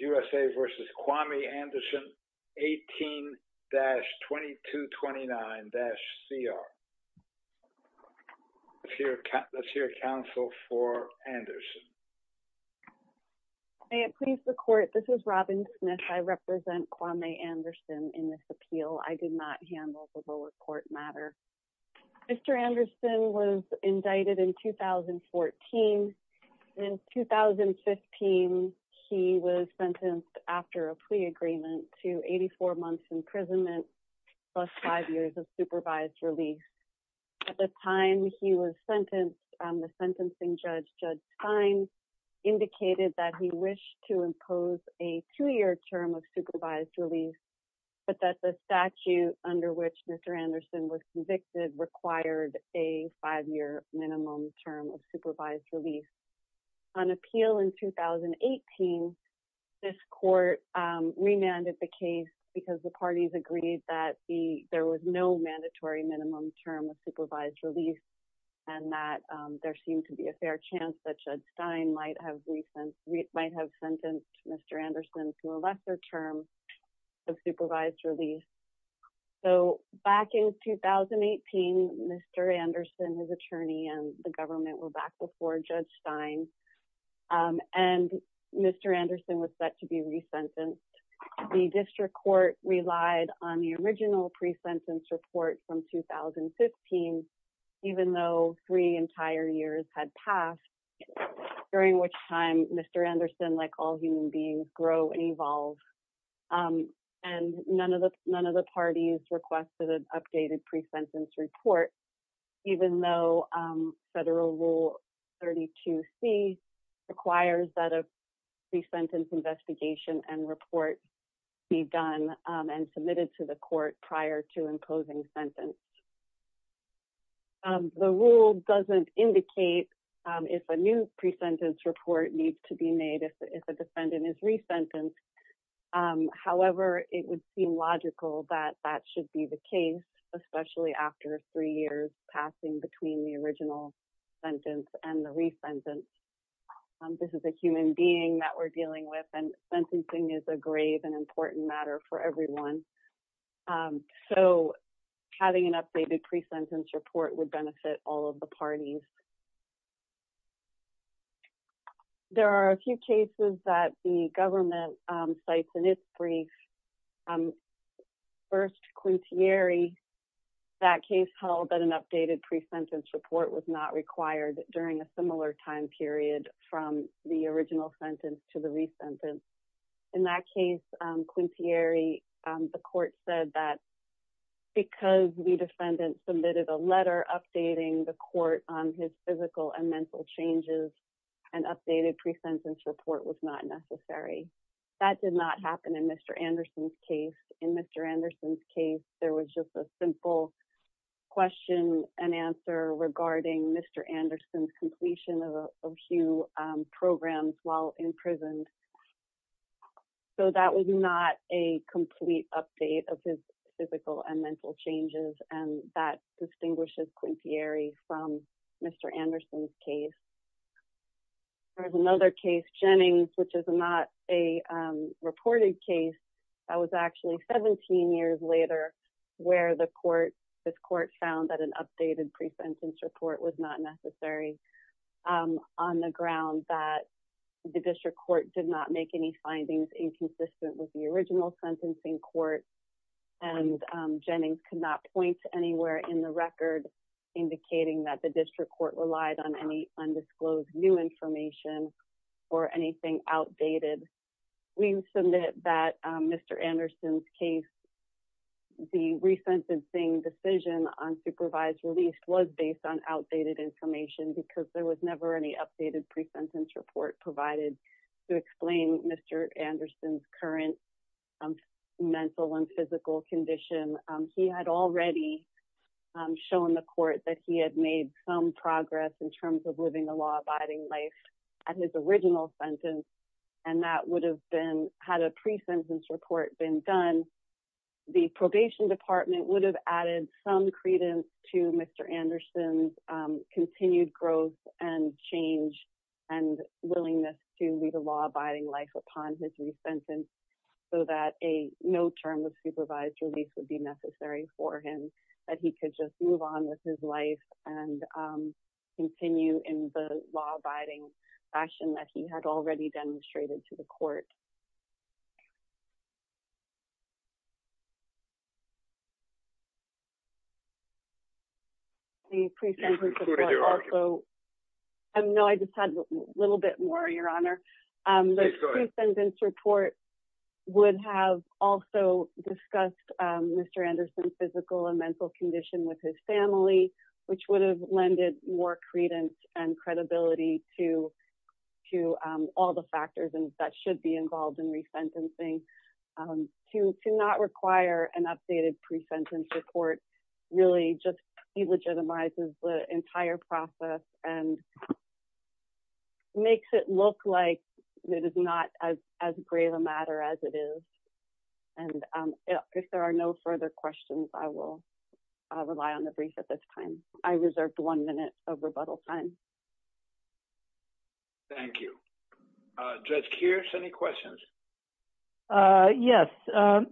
USA v. Kwame Anderson 18-2229-CR He was sentenced after a plea agreement to 84 months imprisonment plus 5 years of supervised release. At the time he was sentenced, the sentencing judge, Judge Stein, indicated that he wished to impose a 2-year term of supervised release, but that the statute under which Mr. Anderson was convicted required a 5-year minimum term of supervised release. On appeal in 2018, this court remanded the case because the parties agreed that there was no mandatory minimum term of supervised release and that there seemed to be a fair chance that Judge Stein might have sentenced Mr. Anderson to a lesser term of supervised release. So back in 2018, Mr. Anderson, his attorney, and the government were back before Judge Stein and Mr. Anderson was set to be resentenced. The district court relied on the original pre-sentence report from 2015, even though 3 entire years had passed, during which time Mr. Anderson, like all human beings, grew and evolved. And none of the parties requested an updated pre-sentence report, even though Federal Rule 32C requires that a pre-sentence investigation and report be done and submitted to the court prior to imposing sentence. The rule doesn't indicate if a new pre-sentence report needs to be made if a defendant is pre-sentenced. However, it would seem logical that that should be the case, especially after three years passing between the original sentence and the re-sentence. This is a human being that we're dealing with and sentencing is a grave and important matter for everyone. So having an updated pre-sentence report would benefit all of the parties. There are a few cases that the government cites in its brief. First, Quintieri, that case held that an updated pre-sentence report was not required during a similar time period from the original sentence to the re-sentence. In that case, Quintieri, the court said that because the defendant submitted a letter updating the court on his physical and mental changes, an updated pre-sentence report was not necessary. That did not happen in Mr. Anderson's case. In Mr. Anderson's case, there was just a simple question and answer regarding Mr. Anderson's completion of a few programs while in prison. So that was not a complete update of his physical and mental changes, and that distinguishes Quintieri from Mr. Anderson's case. There's another case, Jennings, which is not a reported case. That was actually 17 years later where this court found that an updated pre-sentence report was not necessary on the ground that the district court did not make any findings inconsistent with the original sentencing court, and Jennings could not point to anywhere in the record indicating that the district court relied on any undisclosed new information or anything outdated. We submit that Mr. Anderson's case, the re-sentencing decision on supervised release was based on outdated information because there was never any updated pre-sentence report provided to explain Mr. Anderson's current mental and physical condition. He had already shown the progress in terms of living a law-abiding life at his original sentence, and that would have been had a pre-sentence report been done, the probation department would have added some credence to Mr. Anderson's continued growth and change and willingness to lead a law-abiding life upon his re-sentence so that a no term of supervised release would not be necessary for him, that he could just move on with his life and continue in the law-abiding fashion that he had already demonstrated to the court. The pre-sentence report would have also discussed Mr. Anderson's physical and mental condition with his family, which would have lended more credence and credibility to all the factors that should be involved in re-sentencing. To not require an updated pre-sentence report really just delegitimizes the entire process and makes it look like it is not as grave a matter as it is. And if there are no further questions, I will rely on the brief at this time. I reserved one minute of rebuttal time. Thank you. Judge Kearse, any questions? Yes.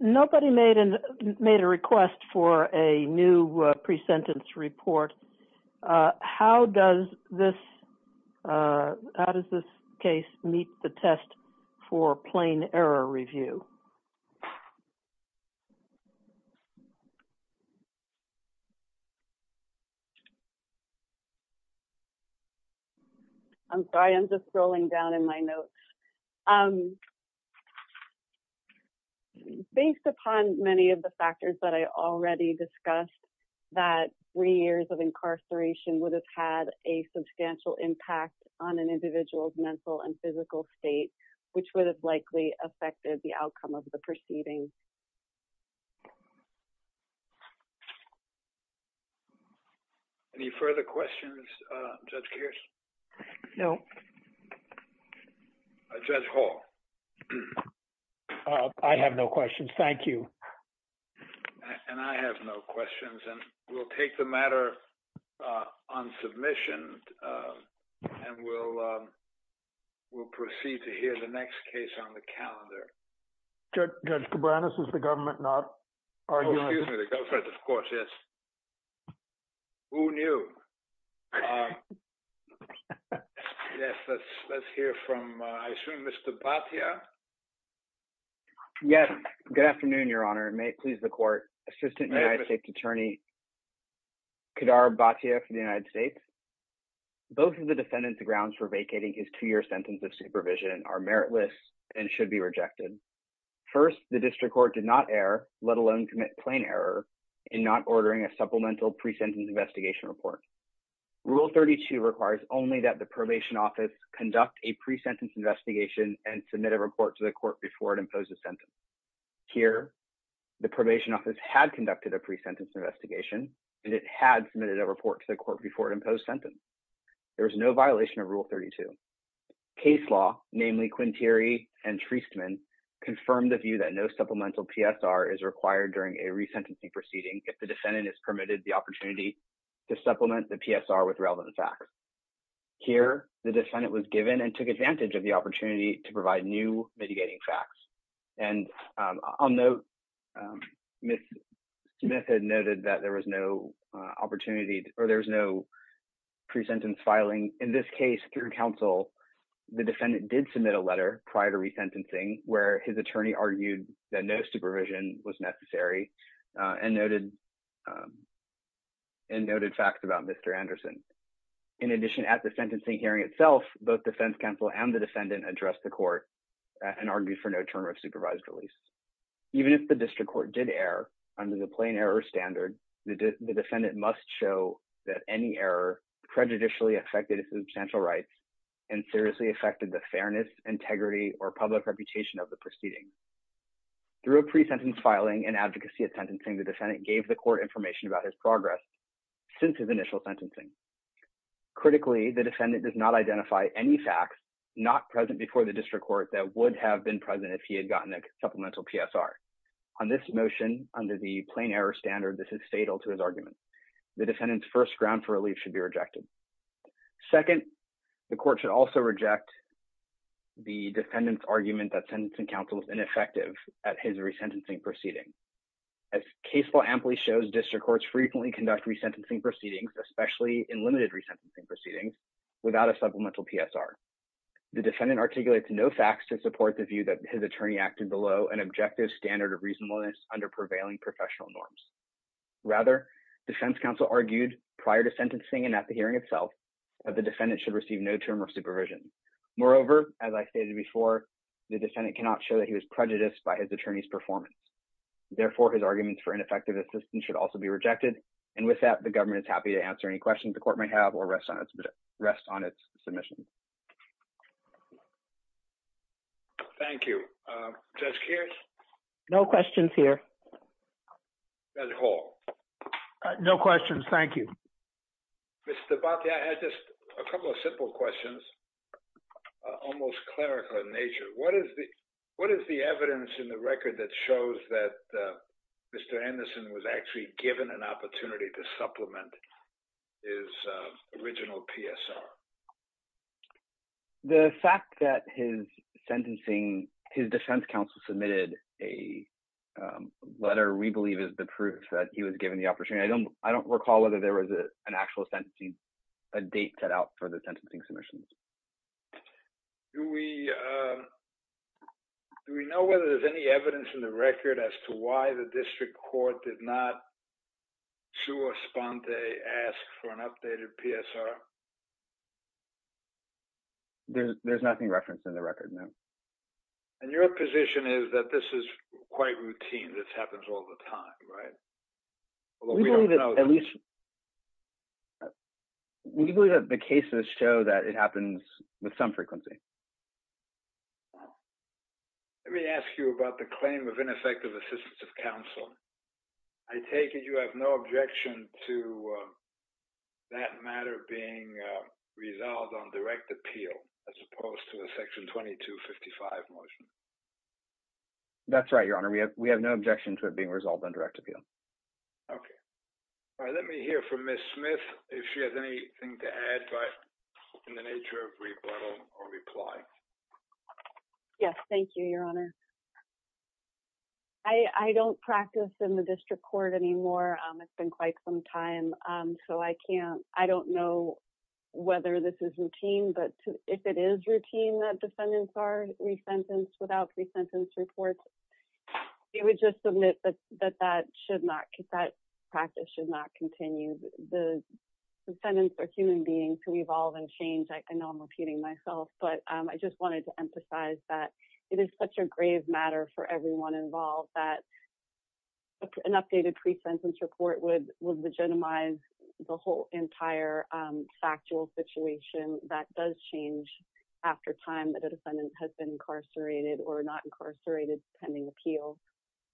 Nobody made a request for a new pre-sentence report. How does this case meet the test for plain error review? I'm sorry, I'm just scrolling down in my notes. Based upon many of the factors that I already discussed, that three years of incarceration would have had a substantial impact on an individual's mental and physical state, which would have likely affected the outcome of the proceeding. Any further questions, Judge Kearse? No. Judge Hall? I have no questions. Thank you. And I have no questions. And we'll take the matter on submission and we'll proceed to the next case on the calendar. Judge Cabranes, is the government not arguing? Excuse me, the government, of course, yes. Who knew? Yes, let's hear from, I assume, Mr. Bhatia? Yes. Good afternoon, Your Honor, and may it please the Court. Assistant United States Attorney Kedar Bhatia for the United States. Both of the defendants grounds for vacating his two-year sentence of supervision are meritless and should be rejected. First, the district court did not err, let alone commit plain error, in not ordering a supplemental pre-sentence investigation report. Rule 32 requires only that the probation office conduct a pre-sentence investigation and submit a report to the court before it imposed a sentence. Here, the probation office had conducted a pre-sentence investigation, and it had submitted a report to the court before it imposed sentence. There was no violation of Rule 32. Case law, namely Quinteri and Treastman, confirmed the view that no supplemental PSR is required during a re-sentencing proceeding if the defendant is permitted the opportunity to supplement the PSR with relevant facts. Here, the defendant was given and took advantage of the opportunity to provide new mitigating facts. And on note, Ms. Smith had noted that there was no opportunity, or there was no pre-sentence filing. In this case, through counsel, the defendant did submit a letter prior to re-sentencing where his attorney argued that no supervision was necessary and noted facts about Mr. Anderson. In addition, at the sentencing hearing itself, both defense counsel and the defendant addressed the court and argued for no term of supervised release. Even if the district court did err under the plain error standard, the defendant must show that any error prejudicially affected his substantial rights and seriously affected the fairness, integrity, or public reputation of the proceeding. Through a pre-sentence filing and advocacy at sentencing, the defendant gave the court information about his progress since his initial sentencing. Critically, the defendant does not identify any facts not present before the district court that would have been present if he had gotten a supplemental PSR. On this motion, under the plain error standard, this is fatal to his argument. The defendant's first ground for relief should be rejected. Second, the court should also reject the defendant's argument that sentencing counsel is ineffective at his re-sentencing proceeding. As case law amply shows, district courts frequently conduct re-sentencing proceedings, especially in limited re-sentencing proceedings, without a supplemental PSR. The defendant articulates no facts to support the view that his attorney acted below an objective standard of reasonableness under prevailing professional norms. Rather, defense counsel argued prior to sentencing and at the hearing itself that the defendant should receive no term of supervision. Moreover, as I stated before, the defendant cannot show that he was prejudiced by his attorney's performance. Therefore, his arguments for ineffective assistance should also be rejected. And with that, the government is happy to answer any questions the court may have or rest on its submission. Thank you. Judge Kears? No questions here. Judge Hall? No questions. Thank you. Mr. Bhatti, I had just a couple of simple questions, almost clerical in nature. What is the evidence in the record that shows that Mr. Anderson was actually given an opportunity to supplement his original PSR? The fact that his sentencing, his defense counsel submitted a letter, we believe is the proof that he was given the opportunity. I don't recall whether there was an actual sentencing, a date set out for the sentencing submissions. Do we know whether there's any evidence in the court that the district court did not ask for an updated PSR? There's nothing referenced in the record, no. And your position is that this is quite routine, this happens all the time, right? We believe that the cases show that it happens with some frequency. Let me ask you about the claim of ineffective assistance of counsel. I take it you have no objection to that matter being resolved on direct appeal, as opposed to the Section 2255 motion? That's right, Your Honor. We have no objection to it being resolved on direct appeal. Okay. All right. Let me hear from Ms. Smith if she has anything to add in the nature of rebuttal or reply. Yes, thank you, Your Honor. I don't practice in the district court anymore. It's been quite some time, so I don't know whether this is routine, but if it is routine that defendants are resentenced without resentence reports, we would just submit that that practice should not continue. The defendants are human beings who evolve and change. I know I'm repeating myself, but I just wanted to emphasize that it is such a grave matter for everyone involved that an updated pre-sentence report would legitimize the whole entire factual situation that does change after time that a defendant has been incarcerated or not incarcerated pending appeal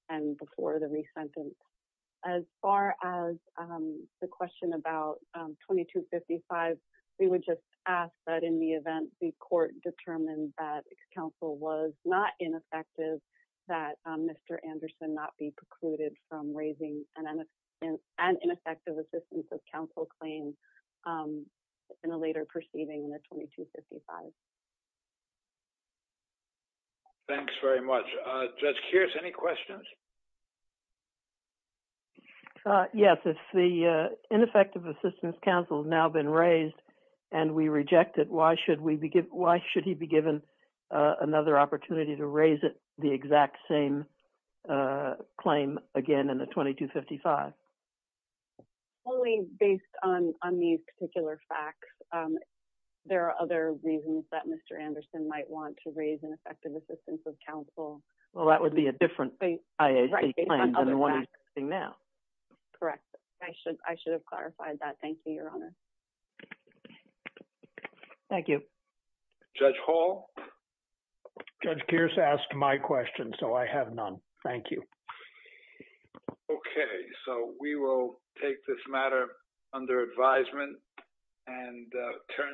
and before the re-sentence. As far as the question about 2255, we would just ask that in the event the court determined that counsel was not ineffective, that Mr. Anderson not be precluded from raising an ineffective assistance of counsel claim in a later proceeding in the 2255. Thanks very much. Judge Kearse, any questions? Yes, if the ineffective assistance counsel has now been raised and we reject it, why should we be given why should he be given another opportunity to raise it the exact same claim again in the 2255? Only based on these particular facts. There are other reasons that Mr. Anderson might want to raise. Correct. I should have clarified that. Thank you, Your Honor. Thank you. Judge Hall? Judge Kearse asked my question, so I have none. Thank you. Okay, so we will take this matter under advisement and turn to the